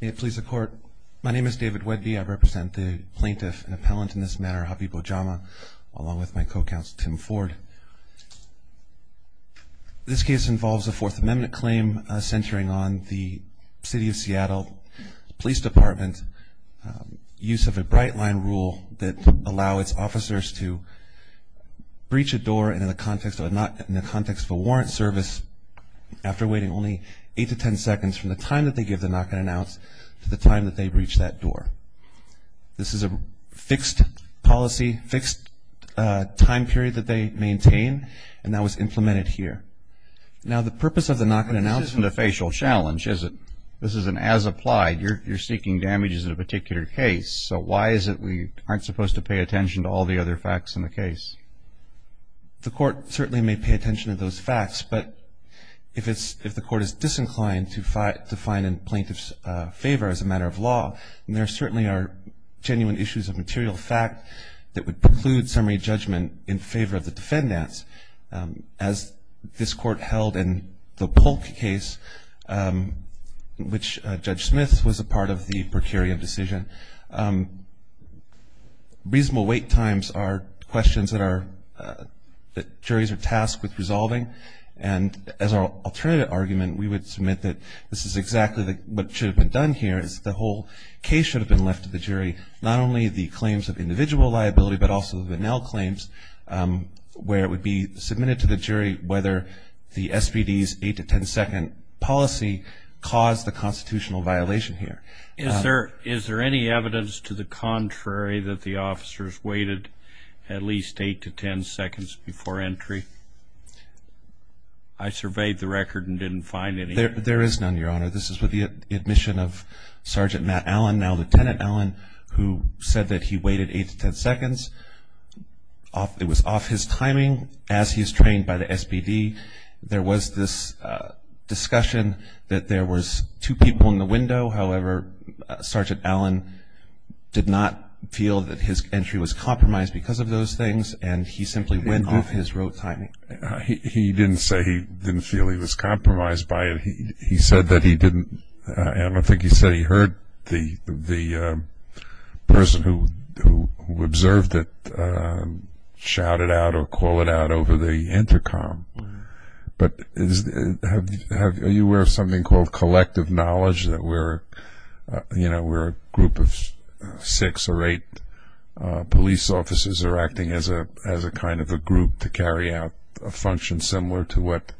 May it please the court. My name is David Wedby. I represent the plaintiff and appellant in this matter, Habib Ojama, along with my co-counsel Tim Ford. This case involves a Fourth Amendment claim centering on the City of Seattle Police Department's use of a bright line rule that allow its officers to breach a door in the context of a warrant service after waiting only eight to ten seconds from the time that they give the knock and announce to the time that they breach that door. This is a fixed policy, fixed time period that they maintain and that was implemented here. Now the purpose of the knock and announce... This isn't a facial challenge, is it? This isn't as applied. You're seeking damages in a particular case, so why is it we aren't supposed to pay attention to all the other facts in the case? The court certainly may pay attention to those facts, but if the court is disinclined to find in plaintiff's favor as a matter of law, then there certainly are genuine issues of material fact that would preclude summary judgment in favor of the defendants. As this court held in the Polk case, which Judge Smith was a part of the per curiam decision, reasonable wait times are questions that we would submit that this is exactly what should have been done here is the whole case should have been left to the jury. Not only the claims of individual liability, but also the Vanell claims where it would be submitted to the jury whether the SPD's eight to ten second policy caused the constitutional violation here. Is there any evidence to the contrary that the I surveyed the record and didn't find any. There is none, Your Honor. This is with the admission of Sergeant Matt Allen, now Lieutenant Allen, who said that he waited eight to ten seconds. It was off his timing as he's trained by the SPD. There was this discussion that there was two people in the window. However, Sergeant Allen did not feel that his entry was compromised because of those things and he simply went off his rote timing. He didn't say he didn't feel he was compromised by it. He said that he didn't and I think he said he heard the the person who observed it shouted out or call it out over the intercom. But are you aware of something called collective knowledge that where you know we're a group of six or eight police officers are acting as a as a kind of a group to carry out a function similar to what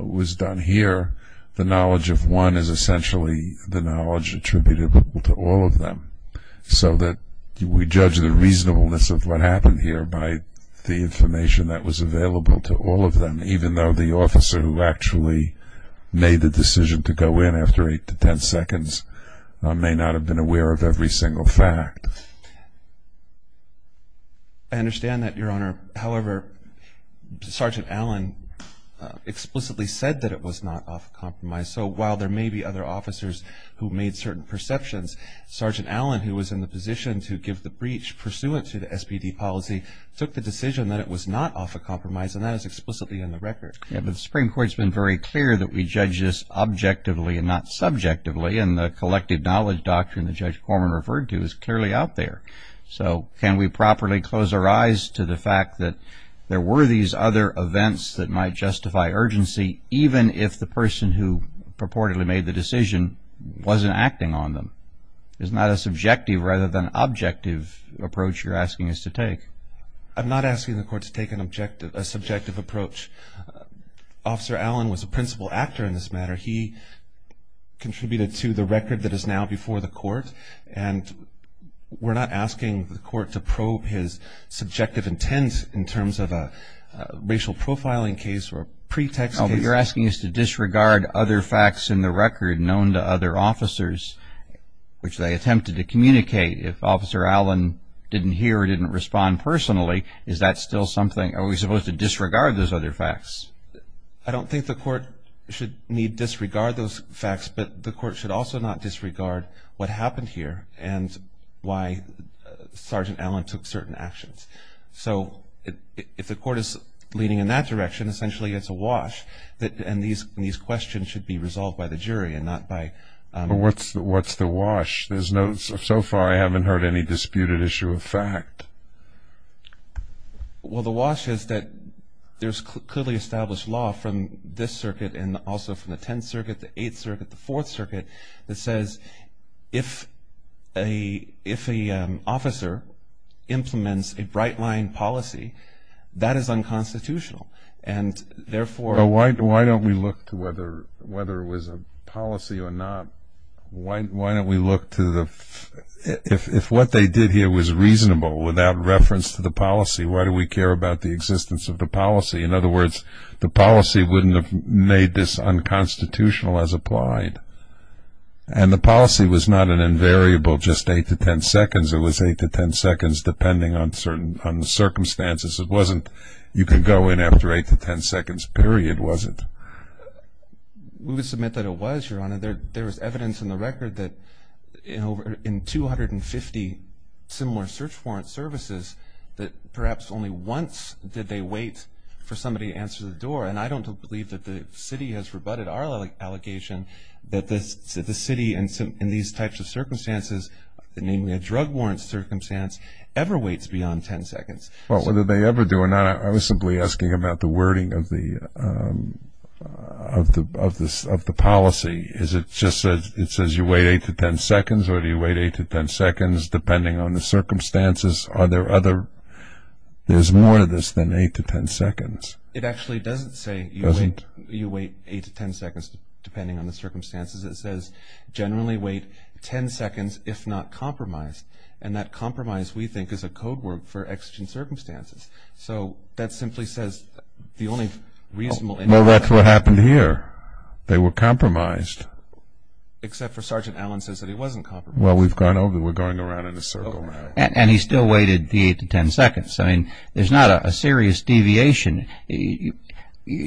was done here. The knowledge of one is essentially the knowledge attributed to all of them so that we judge the reasonableness of what happened here by the information that was available to all of them even though the officer who actually made the seven seconds may not have been aware of every single fact. I understand that your honor. However, Sergeant Allen explicitly said that it was not off compromise so while there may be other officers who made certain perceptions Sergeant Allen who was in the position to give the breach pursuant to the SPD policy took the decision that it was not off a compromise and that is explicitly in the record. Yeah but the Supreme Court's been very clear that we judge this objectively and not subjectively and the collective knowledge doctrine that Judge Corman referred to is clearly out there. So can we properly close our eyes to the fact that there were these other events that might justify urgency even if the person who purportedly made the decision wasn't acting on them. It's not a subjective rather than objective approach you're asking us to take. I'm not asking the court to take an objective a subjective approach. Officer Allen was a person who contributed to the record that is now before the court and we're not asking the court to probe his subjective intent in terms of a racial profiling case or pretext case. What you're asking is to disregard other facts in the record known to other officers which they attempted to communicate. If Officer Allen didn't hear or didn't respond personally is that still something are we supposed to disregard those facts but the court should also not disregard what happened here and why Sergeant Allen took certain actions. So if the court is leaning in that direction essentially it's a wash that and these questions should be resolved by the jury and not by... What's the wash? There's no so far I haven't heard any disputed issue of fact. Well the wash is that there's clearly established law from this circuit and also from the 10th circuit, the 8th circuit, the 4th circuit that says if a officer implements a bright line policy that is unconstitutional and therefore... Why don't we look to whether it was a policy or not? Why don't we look to the... if what they did here was reasonable without reference to the policy why do we care about the existence of the policy? In other words the policy wouldn't have made this unconstitutional as applied and the policy was not an invariable just 8 to 10 seconds it was 8 to 10 seconds depending on certain circumstances. It wasn't you can go in after 8 to 10 seconds period was it? We would submit that it was your honor. There was evidence in the record that in 250 similar search warrant services that perhaps only once did they wait for 10 seconds. That the city has rebutted our allegation that the city in these types of circumstances namely a drug warrants circumstance ever waits beyond 10 seconds. Well whether they ever do or not I was simply asking about the wording of the policy. Is it just that it says you wait 8 to 10 seconds or do you wait 8 to 10 seconds depending on the circumstances? Are there other... there's more to this than 8 to 10 seconds. It actually doesn't say you wait 8 to 10 seconds depending on the circumstances. It says generally wait 10 seconds if not compromised and that compromise we think is a code word for exigent circumstances. So that simply says the only reasonable... Well that's what happened here. They were compromised. Except for Sergeant Allen says that he wasn't compromised. Well we've gone over we're going around in a circle now. And he still waited the 8 to 10 seconds. I mean there's not a serious deviation.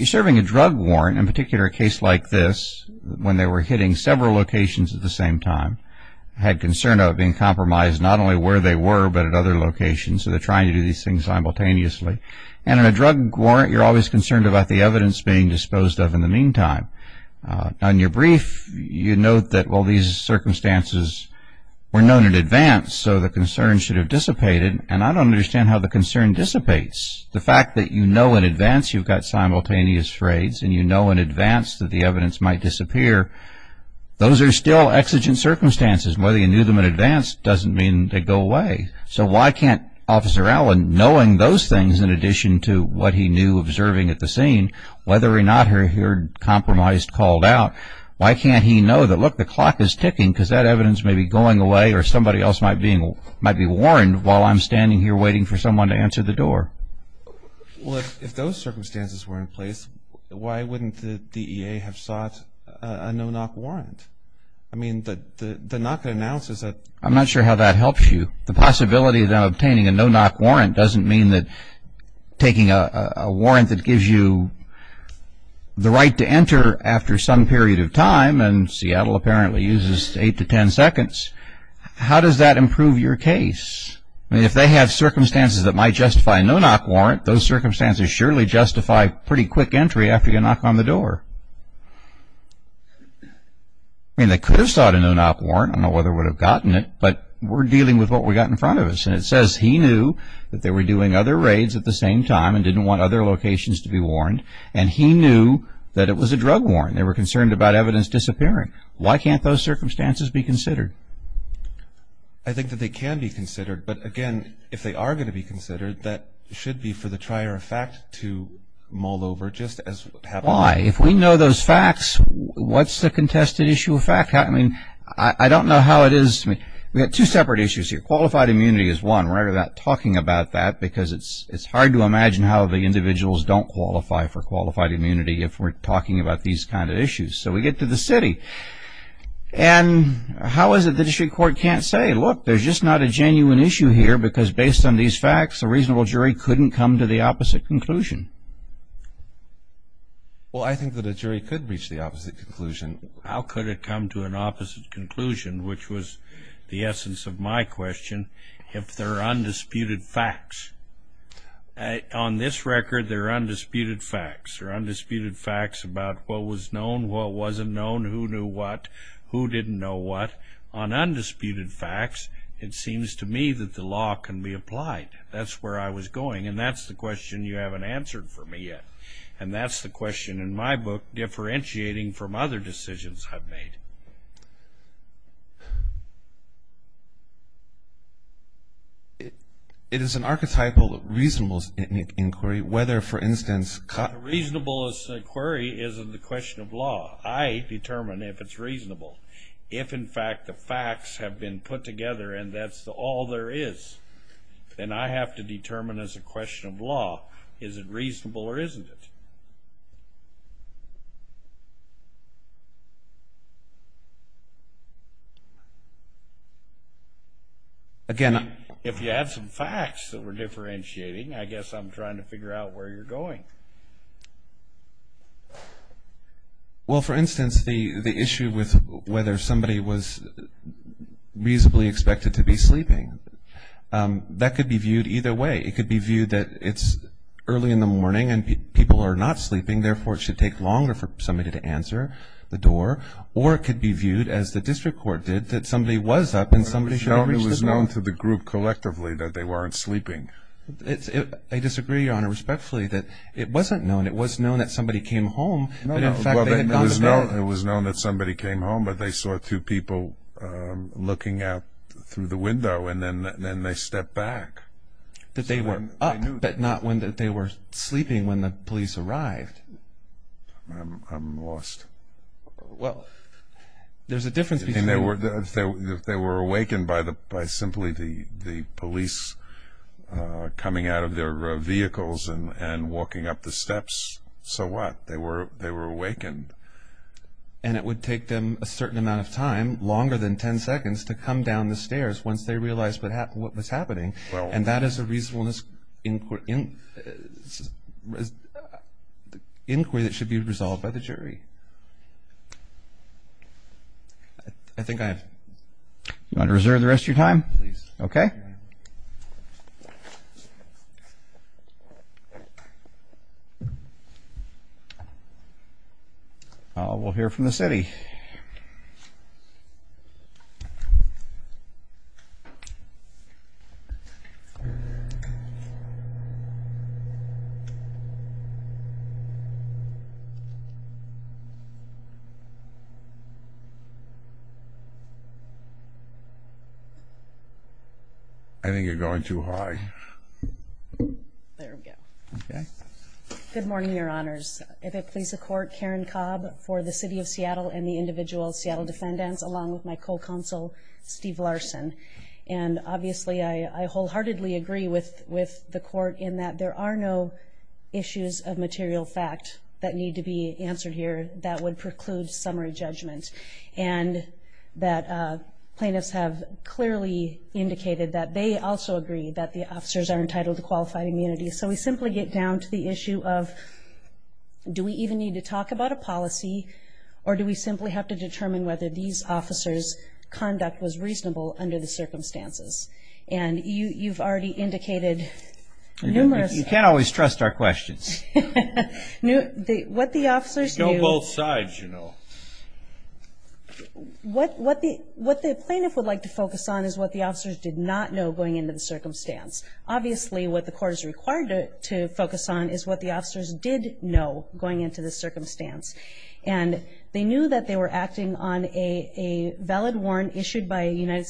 Serving a drug warrant in particular a case like this when they were hitting several locations at the same time had concern of being compromised not only where they were but at other locations. So they're trying to do these things simultaneously. And in a drug warrant you're always concerned about the evidence being disposed of in the meantime. On your brief you note that well these circumstances were known in advance. You don't understand how the concern dissipates. The fact that you know in advance you've got simultaneous frays and you know in advance that the evidence might disappear. Those are still exigent circumstances. Whether you knew them in advance doesn't mean they go away. So why can't Officer Allen knowing those things in addition to what he knew observing at the scene, whether or not he heard compromised called out, why can't he know that look the clock is ticking because that evidence may be going away or somebody else might be warned while I'm standing here waiting for someone to answer the door. Well if those circumstances were in place why wouldn't the DEA have sought a no-knock warrant? I mean the knock they announced is that. I'm not sure how that helps you. The possibility of them obtaining a no-knock warrant doesn't mean that taking a warrant that gives you the right to enter after some period of time and Seattle apparently uses eight to ten seconds. How does that improve your case? I mean if they have circumstances that might justify a no-knock warrant those circumstances surely justify pretty quick entry after you knock on the door. I mean they could have sought a no-knock warrant. I don't know whether they would have gotten it but we're dealing with what we got in front of us and it says he knew that they were doing other raids at the same time and didn't want other locations to be warned and he knew that it was a drug warrant. They were concerned about evidence disappearing. Why can't those circumstances be considered? I think that they can be considered but again if they are going to be considered that should be for the trier of fact to mull over just as happened. Why? If we know those facts what's the contested issue of fact? I mean I don't know how it is to me. We have two separate issues here. Qualified immunity is one. We're not talking about that because it's hard to imagine how the individuals don't qualify for qualified immunity if we're talking about the city. And how is it the district court can't say look there's just not a genuine issue here because based on these facts a reasonable jury couldn't come to the opposite conclusion? Well I think that a jury could reach the opposite conclusion. How could it come to an opposite conclusion which was the essence of my question if there are undisputed facts? On this record there are undisputed facts. There are undisputed facts about what was known, what wasn't known, who knew what, who didn't know what. On undisputed facts it seems to me that the law can be applied. That's where I was going and that's the question you haven't answered for me yet. And that's the question in my book differentiating from other decisions I've made. It is an archetypal reasonable inquiry whether for instance... Reasonable inquiry is the question of law. I determine if it's reasonable. If in fact the facts have been put together and that's all there is, then I have to determine as a question of law is it reasonable or isn't it? If you have some facts that we're differentiating I guess I'm trying to Well, for instance, the issue with whether somebody was reasonably expected to be sleeping. That could be viewed either way. It could be viewed that it's early in the morning and people are not sleeping, therefore it should take longer for somebody to answer the door. Or it could be viewed as the district court did that somebody was up and somebody should have reached the door. Somebody was known to the group collectively that they weren't sleeping. I disagree, Your Honor, respectfully that it wasn't known. It was known that somebody came home, but in fact they had gone to bed. It was known that somebody came home, but they saw two people looking out through the window and then they stepped back. That they were up, but not when they were sleeping when the police arrived. I'm lost. Well, there's a difference between... If they were awakened by simply the police coming out of their vehicles and walking up the steps, so what? They were awakened. And it would take them a certain amount of time, longer than ten seconds, to come down the stairs once they realized what was happening. And that is a reasonableness inquiry that should be resolved by the jury. I think I have... You want to reserve the rest of your time? Please. Okay. We'll hear from the city. I think you're going too high. There we go. Okay. Good morning, Your Honors. If it please the Court, Karen Cobb for the City of Seattle and the individual Seattle defendants, along with my co-counsel, Steve Larson. And obviously I wholeheartedly agree with the Court in that there are no issues of material fact that need to be answered here. That would preclude summary judgment. And that plaintiffs have clearly indicated that they also agree that the officers are entitled to qualified immunity. So we simply get down to the issue of do we even need to talk about a policy or do we simply have to determine whether these officers' conduct was reasonable under the circumstances? And you've already indicated numerous... You can't always trust our questions. What the officers knew... Show both sides, you know. What the plaintiff would like to focus on is what the officers did not know going into the circumstance. Obviously what the Court is required to focus on is what the officers did know going into the circumstance. And they knew that they were acting on a valid warrant issued by a United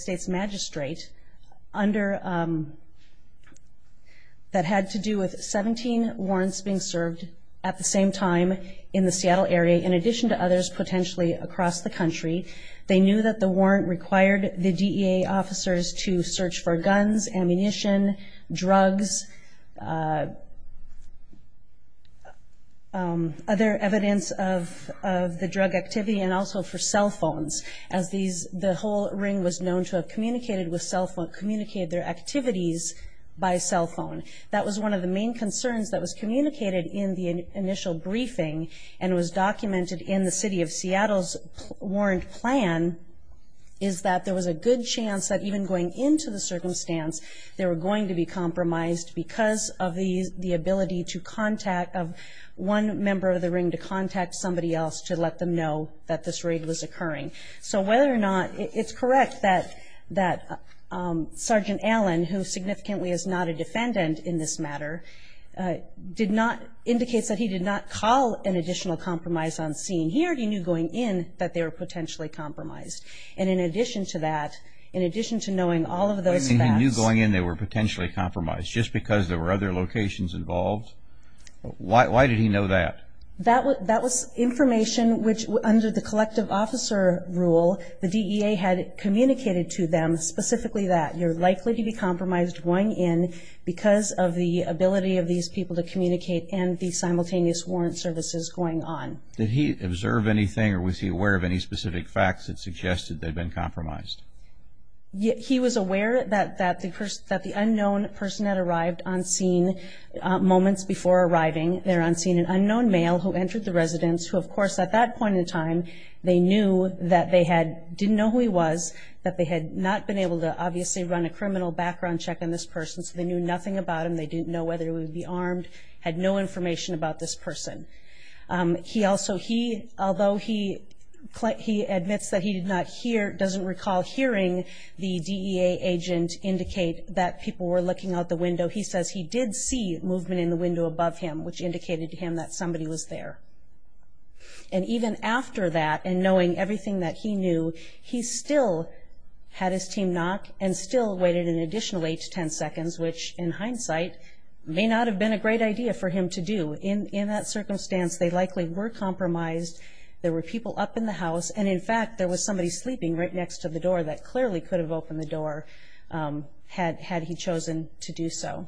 at the same time in the Seattle area, in addition to others potentially across the country. They knew that the warrant required the DEA officers to search for guns, ammunition, drugs, other evidence of the drug activity, and also for cell phones. As the whole ring was known to have communicated their activities by cell phone. That was one of the main concerns that was communicated in the initial briefing and was documented in the City of Seattle's warrant plan, is that there was a good chance that even going into the circumstance, they were going to be compromised because of the ability of one member of the ring to contact somebody else to let them know that this raid was occurring. So whether or not it's correct that Sergeant Allen, who significantly is not a defendant in this matter, indicates that he did not call an additional compromise on scene here, he knew going in that they were potentially compromised. And in addition to that, in addition to knowing all of those facts. And he knew going in they were potentially compromised just because there were other locations involved? Why did he know that? That was information which under the collective officer rule, the DEA had communicated to them specifically that you're likely to be compromised going in because of the ability of these people to communicate and the simultaneous warrant services going on. Did he observe anything or was he aware of any specific facts that suggested they'd been compromised? He was aware that the unknown person had arrived on scene moments before arriving. There on scene, an unknown male who entered the residence, who of course at that point in time they knew that they didn't know who he was, that they had not been able to obviously run a criminal background check on this person, so they knew nothing about him, they didn't know whether he would be armed, had no information about this person. He also, he, although he admits that he did not hear, doesn't recall hearing the DEA agent indicate that people were looking out the window, he says he did see movement in the window above him, which indicated to him that somebody was there. And even after that and knowing everything that he knew, he still had his team knock and still waited an additional eight to ten seconds, which in hindsight may not have been a great idea for him to do. In that circumstance, they likely were compromised, there were people up in the house, and in fact, there was somebody sleeping right next to the door that clearly could have opened the door had he chosen to do so.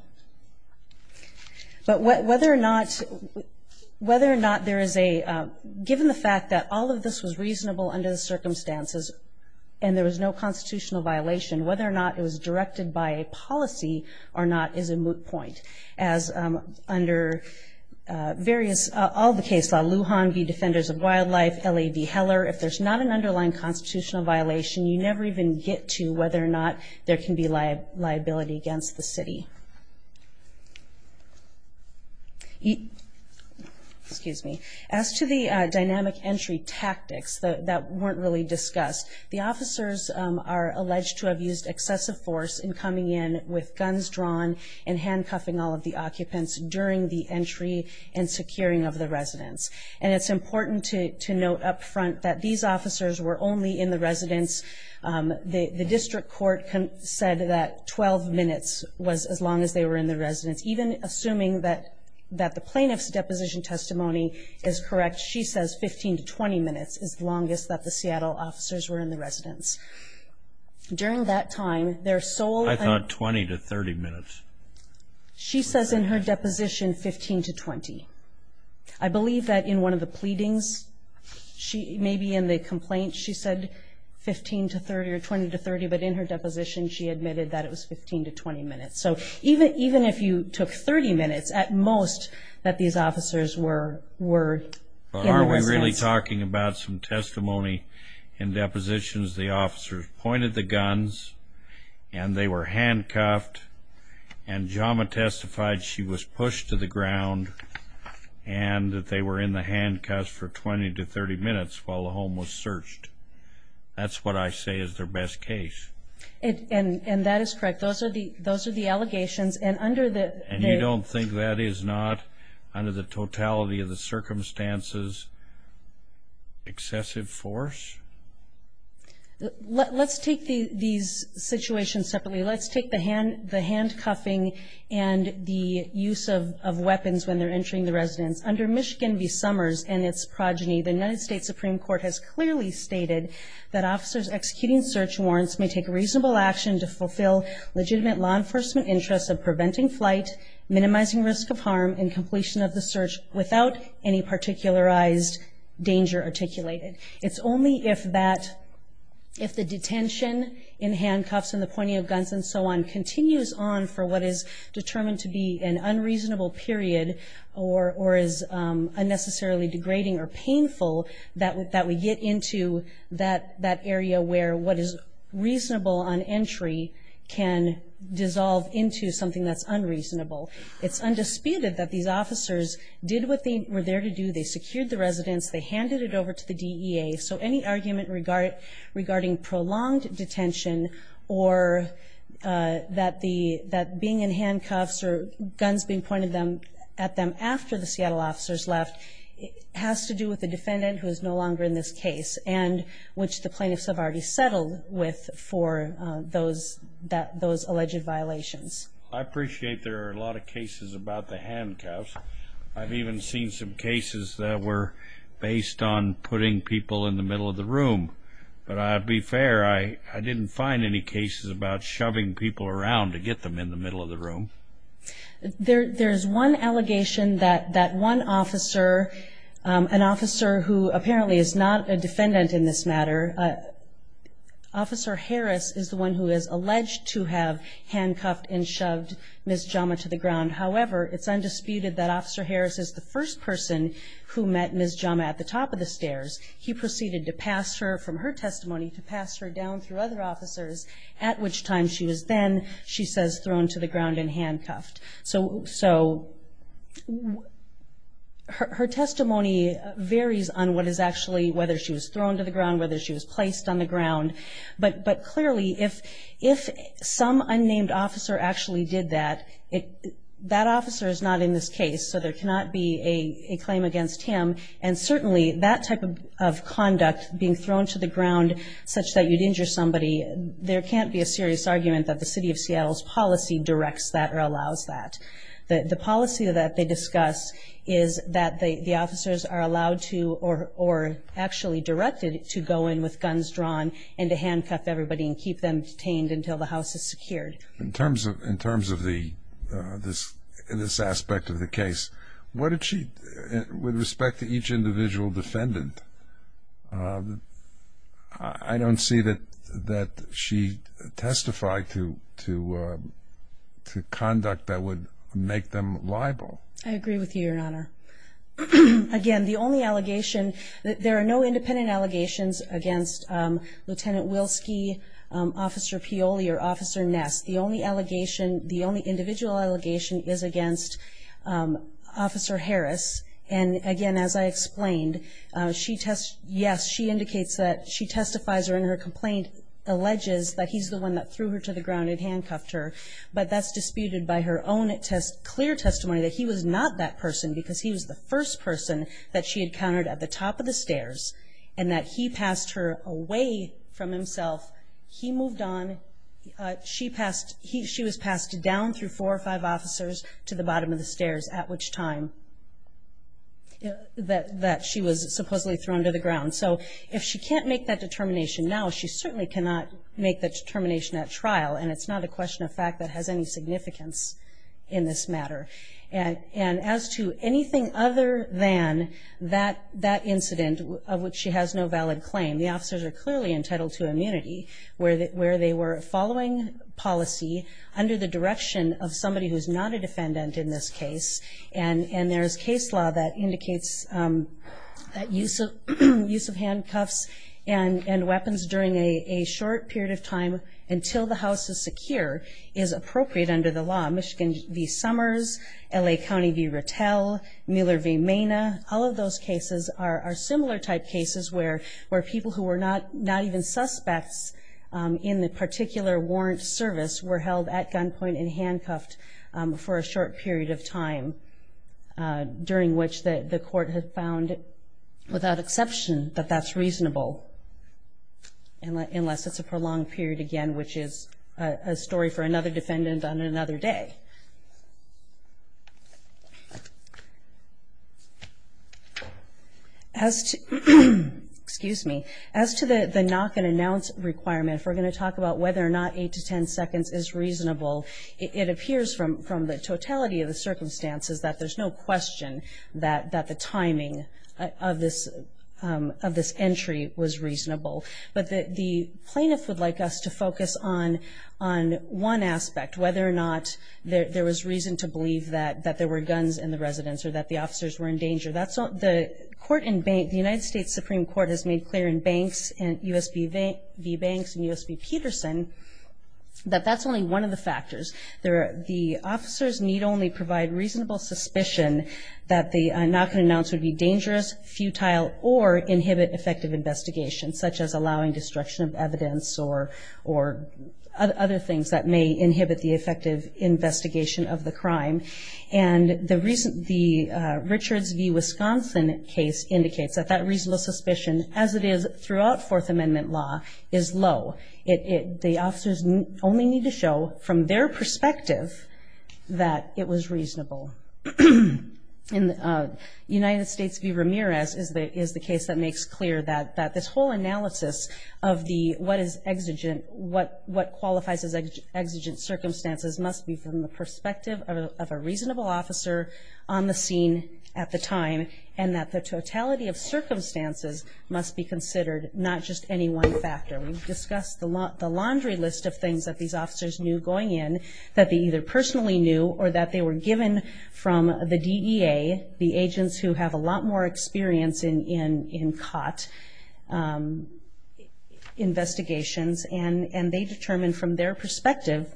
But whether or not there is a, given the fact that all of this was reasonable under the circumstances and there was no constitutional violation, whether or not it was directed by a policy or not is a moot point. As under various, all the case law, Lujan v. Defenders of Wildlife, L.A. v. Heller, if there's not an underlying constitutional violation, excuse me, as to the dynamic entry tactics that weren't really discussed, the officers are alleged to have used excessive force in coming in with guns drawn and handcuffing all of the occupants during the entry and securing of the residence. And it's important to note up front that these officers were only in the residence. The district court said that 12 minutes was as long as they were in the residence. Even assuming that the plaintiff's deposition testimony is correct, she says 15 to 20 minutes is the longest that the Seattle officers were in the residence. During that time, their sole- I thought 20 to 30 minutes. She says in her deposition, 15 to 20. I believe that in one of the pleadings, maybe in the complaint she said 15 to 30 or 20 to 30, but in her deposition she admitted that it was 15 to 20 minutes. So even if you took 30 minutes, at most, that these officers were in the residence. But are we really talking about some testimony in depositions? The officers pointed the guns and they were handcuffed, and Jama testified she was pushed to the ground and that they were in the residence for 20 to 30 minutes while the home was searched. That's what I say is their best case. And that is correct. Those are the allegations. And under the- And you don't think that is not, under the totality of the circumstances, excessive force? Let's take these situations separately. Let's take the handcuffing and the use of weapons when they're entering the residence. Under Michigan v. Summers and its progeny, the United States Supreme Court has clearly stated that officers executing search warrants may take reasonable action to fulfill legitimate law enforcement interests of preventing flight, minimizing risk of harm, and completion of the search without any particularized danger articulated. It's only if that, if the detention in handcuffs and the pointing of guns and so on continues on for what is determined to be an unreasonable period or is unnecessarily degrading or painful that we get into that area where what is reasonable on entry can dissolve into something that's unreasonable. It's undisputed that these officers did what they were there to do. They secured the residence. They handed it over to the DEA. So any argument regarding prolonged detention or that being in handcuffs or guns being pointed at them after the Seattle officers left has to do with the defendant who is no longer in this case and which the plaintiffs have already settled with for those alleged violations. I appreciate there are a lot of cases about the handcuffs. I've even seen some cases that were based on putting people in the middle of the room. But I'll be fair, I didn't find any cases about shoving people around to get them in the middle of the room. There's one allegation that that one officer, an officer who apparently is not a defendant in this matter, Officer Harris is the one who is alleged to have handcuffed and shoved Ms. Jama to the ground. However, it's undisputed that Officer Harris is the first person who met Ms. Jama at the top of the stairs. He proceeded to pass her from her testimony to pass her down through other officers, at which time she was then, she says, thrown to the ground and handcuffed. So her testimony varies on what is actually whether she was thrown to the ground, whether she was placed on the ground. But clearly if some unnamed officer actually did that, that officer is not in this case, so there cannot be a claim against him. And certainly that type of conduct, being thrown to the ground such that you'd think there can't be a serious argument that the City of Seattle's policy directs that or allows that. The policy that they discuss is that the officers are allowed to or actually directed to go in with guns drawn and to handcuff everybody and keep them detained until the house is secured. In terms of this aspect of the case, what did she, with respect to each individual defendant, I don't see that she testified to conduct that would make them liable. I agree with you, Your Honor. Again, the only allegation, there are no independent allegations against Lieutenant Wilski, Officer Pioli, or Officer Ness. The only individual allegation is against Officer Harris. And, again, as I explained, yes, she indicates that she testifies or in her complaint alleges that he's the one that threw her to the ground and handcuffed her. But that's disputed by her own clear testimony that he was not that person because he was the first person that she encountered at the top of the stairs and that he passed her away from himself. He moved on. She was passed down through four or five officers to the bottom of the stairs at which time that she was supposedly thrown to the ground. So if she can't make that determination now, she certainly cannot make that determination at trial, and it's not a question of fact that has any significance in this matter. And as to anything other than that incident of which she has no valid claim, the officers are clearly entitled to immunity where they were following policy under the direction of somebody who's not a defendant in this case. And there's case law that indicates that use of handcuffs and weapons during a short period of time until the house is secure is appropriate under the law. Michigan v. Summers, L.A. County v. Rattell, Mueller v. Mena, all of those cases are similar type cases where people who were not even suspects in the particular warrant service were held at gunpoint and handcuffed for a short period of time during which the court had found, without exception, that that's reasonable unless it's a prolonged period again, which is a story for another defendant on another day. As to the knock and announce requirement, if we're going to talk about whether or not 8 to 10 seconds is reasonable, it appears from the totality of the circumstances that there's no question that the timing of this entry was reasonable. But the plaintiff would like us to focus on one aspect, whether or not there was reason to believe that there were guns in the residence or that the officers were in danger. The United States Supreme Court has made clear in Banks v. Banks and U.S.P. Peterson that that's only one of the factors. The officers need only provide reasonable suspicion that the knock and announce would be dangerous, futile, or inhibit effective investigation, such as allowing destruction of evidence or other things that may inhibit the effective investigation of the crime. And the Richards v. Wisconsin case indicates that that reasonable suspicion, as it is throughout Fourth Amendment law, is low. The officers only need to show from their perspective that it was reasonable. United States v. Ramirez is the case that makes clear that this whole analysis of what qualifies as exigent circumstances must be from the perspective of a reasonable officer on the scene at the time and that the totality of circumstances must be considered, not just any one factor. We've discussed the laundry list of things that these officers knew going in, that they either personally knew or that they were given from the DEA, the agents who have a lot more experience in caught investigations, and they determined from their perspective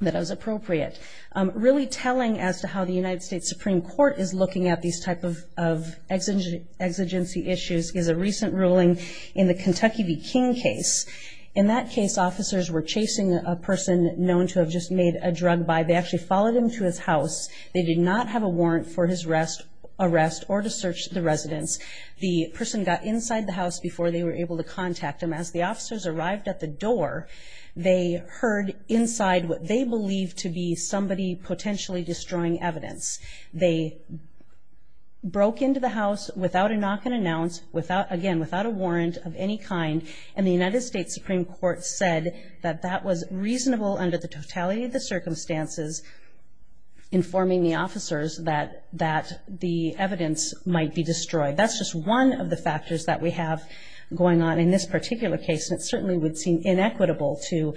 that it was appropriate. Really telling as to how the United States Supreme Court is looking at these type of exigency issues is a recent ruling in the Kentucky v. King case. In that case, officers were chasing a person known to have just made a drug buy. They actually followed him to his house. They did not have a warrant for his arrest or to search the residence. The person got inside the house before they were able to contact him. As the officers arrived at the door, they heard inside what they believed to be somebody potentially destroying evidence. They broke into the house without a knock and announce, again, without a warrant of any kind, and the United States Supreme Court said that that was reasonable under the totality of the circumstances informing the officers that the evidence might be destroyed. That's just one of the factors that we have going on in this particular case, and it certainly would seem inequitable to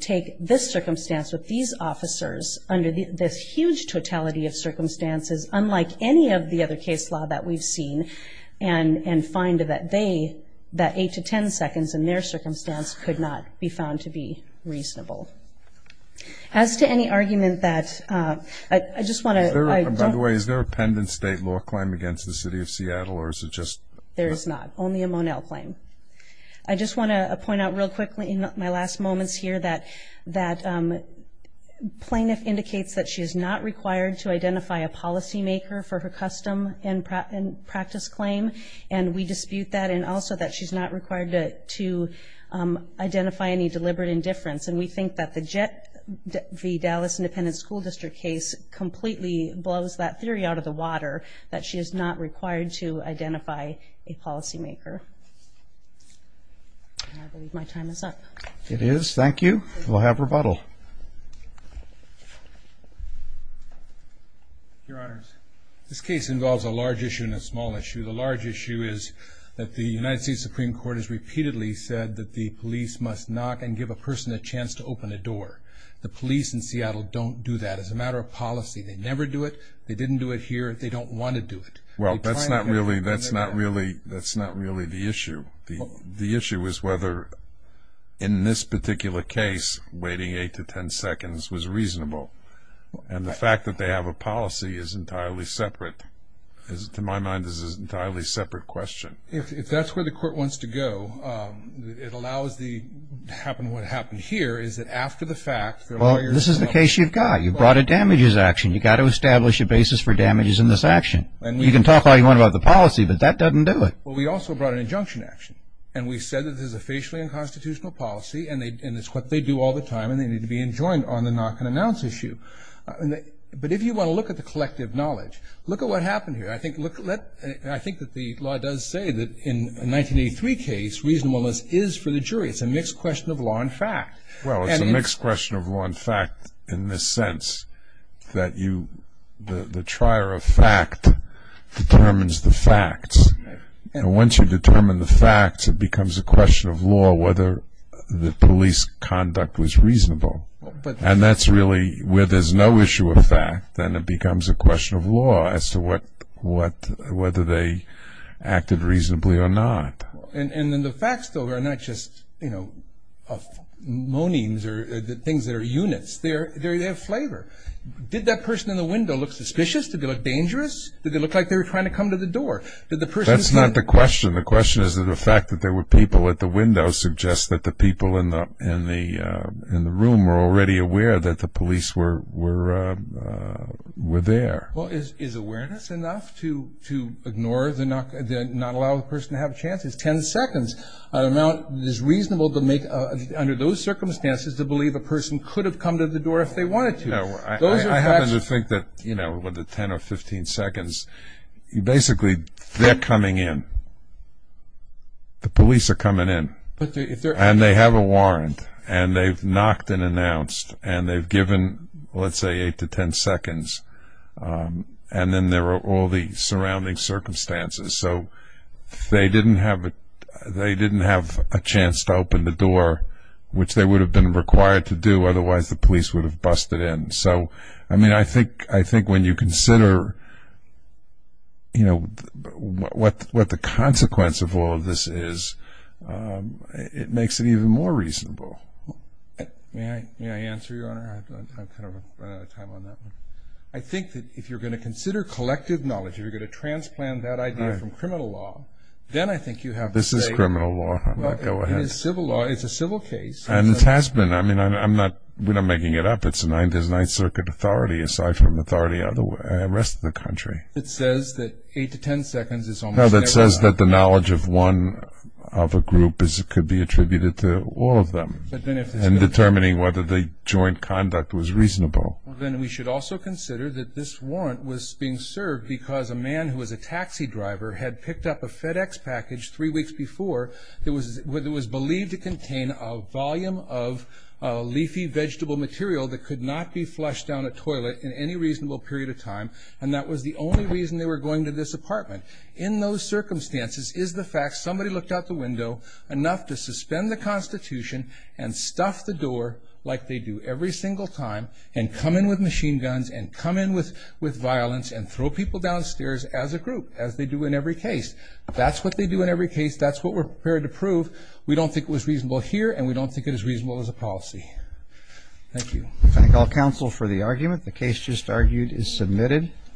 take this circumstance with these officers under this huge totality of circumstances, unlike any of the other case law that we've seen, and find that they, that 8 to 10 seconds in their circumstance, could not be found to be reasonable. As to any argument that ‑‑ I just want to ‑‑ By the way, is there a pendant state law claim against the City of Seattle, or is it just ‑‑ There is not. Only a Monell claim. I just want to point out real quickly in my last moments here that plaintiff indicates that she is not required to identify a policymaker for her custom and practice claim, and we dispute that, and also that she's not required to identify any deliberate indifference, and we think that the Jet v. Dallas Independent School District case completely blows that theory out of the water, that she is not required to identify a policymaker. I believe my time is up. It is. Thank you. We'll have rebuttal. Your Honors, this case involves a large issue and a small issue. The large issue is that the United States Supreme Court has repeatedly said that the police must knock and give a person a chance to open a door. The police in Seattle don't do that. It's a matter of policy. They never do it. They didn't do it here. They don't want to do it. Well, that's not really the issue. The issue is whether, in this particular case, waiting eight to ten seconds was reasonable, and the fact that they have a policy is entirely separate. To my mind, this is an entirely separate question. If that's where the court wants to go, it allows what happened here is that after the fact, they're lawyers and lawyers. Well, this is the case you've got. You've brought a damages action. You've got to establish a basis for damages in this action. You can talk all you want about the policy, but that doesn't do it. Well, we also brought an injunction action, and we said that this is a facially unconstitutional policy, and it's what they do all the time, and they need to be enjoined on the knock and announce issue. But if you want to look at the collective knowledge, look at what happened here. I think that the law does say that in a 1983 case, reasonableness is for the jury. It's a mixed question of law and fact. Well, it's a mixed question of law and fact in this sense, that the trier of fact determines the facts. And once you determine the facts, it becomes a question of law whether the police conduct was reasonable. And that's really where there's no issue of fact, then it becomes a question of law as to whether they acted reasonably or not. And then the facts, though, are not just, you know, moanings or things that are units. They have flavor. Did that person in the window look suspicious? Did they look dangerous? Did they look like they were trying to come to the door? That's not the question. The question is that the fact that there were people at the window suggests that the people in the room were already aware that the police were there. Well, is awareness enough to ignore the knock and not allow the person to have a chance? If 10 seconds is reasonable to make under those circumstances to believe a person could have come to the door if they wanted to. I happen to think that, you know, with the 10 or 15 seconds, basically they're coming in. The police are coming in. And they have a warrant. And they've knocked and announced. And they've given, let's say, 8 to 10 seconds. And then there are all the surrounding circumstances. So they didn't have a chance to open the door, which they would have been required to do, otherwise the police would have busted in. So, I mean, I think when you consider, you know, what the consequence of all of this is, it makes it even more reasonable. May I answer, Your Honor? I've kind of run out of time on that one. I think that if you're going to consider collective knowledge, if you're going to transplant that idea from criminal law, then I think you have to say. This is criminal law. Go ahead. It is civil law. It's a civil case. And it has been. I mean, we're not making it up. It's Ninth Circuit authority aside from authority the rest of the country. It says that 8 to 10 seconds is almost never enough. No, that says that the knowledge of one of a group could be attributed to all of them. And determining whether the joint conduct was reasonable. Then we should also consider that this warrant was being served because a man who was a taxi driver had picked up a FedEx package three weeks before that was believed to contain a volume of leafy vegetable material that could not be flushed down a toilet in any reasonable period of time. And that was the only reason they were going to this apartment. In those circumstances is the fact somebody looked out the window enough to suspend the Constitution and stuff the door like they do every single time and come in with machine guns and come in with violence and throw people downstairs as a group as they do in every case. That's what they do in every case. That's what we're prepared to prove. We don't think it was reasonable here and we don't think it is reasonable as a policy. Thank you. Thank all counsel for the argument. The case just argued is submitted.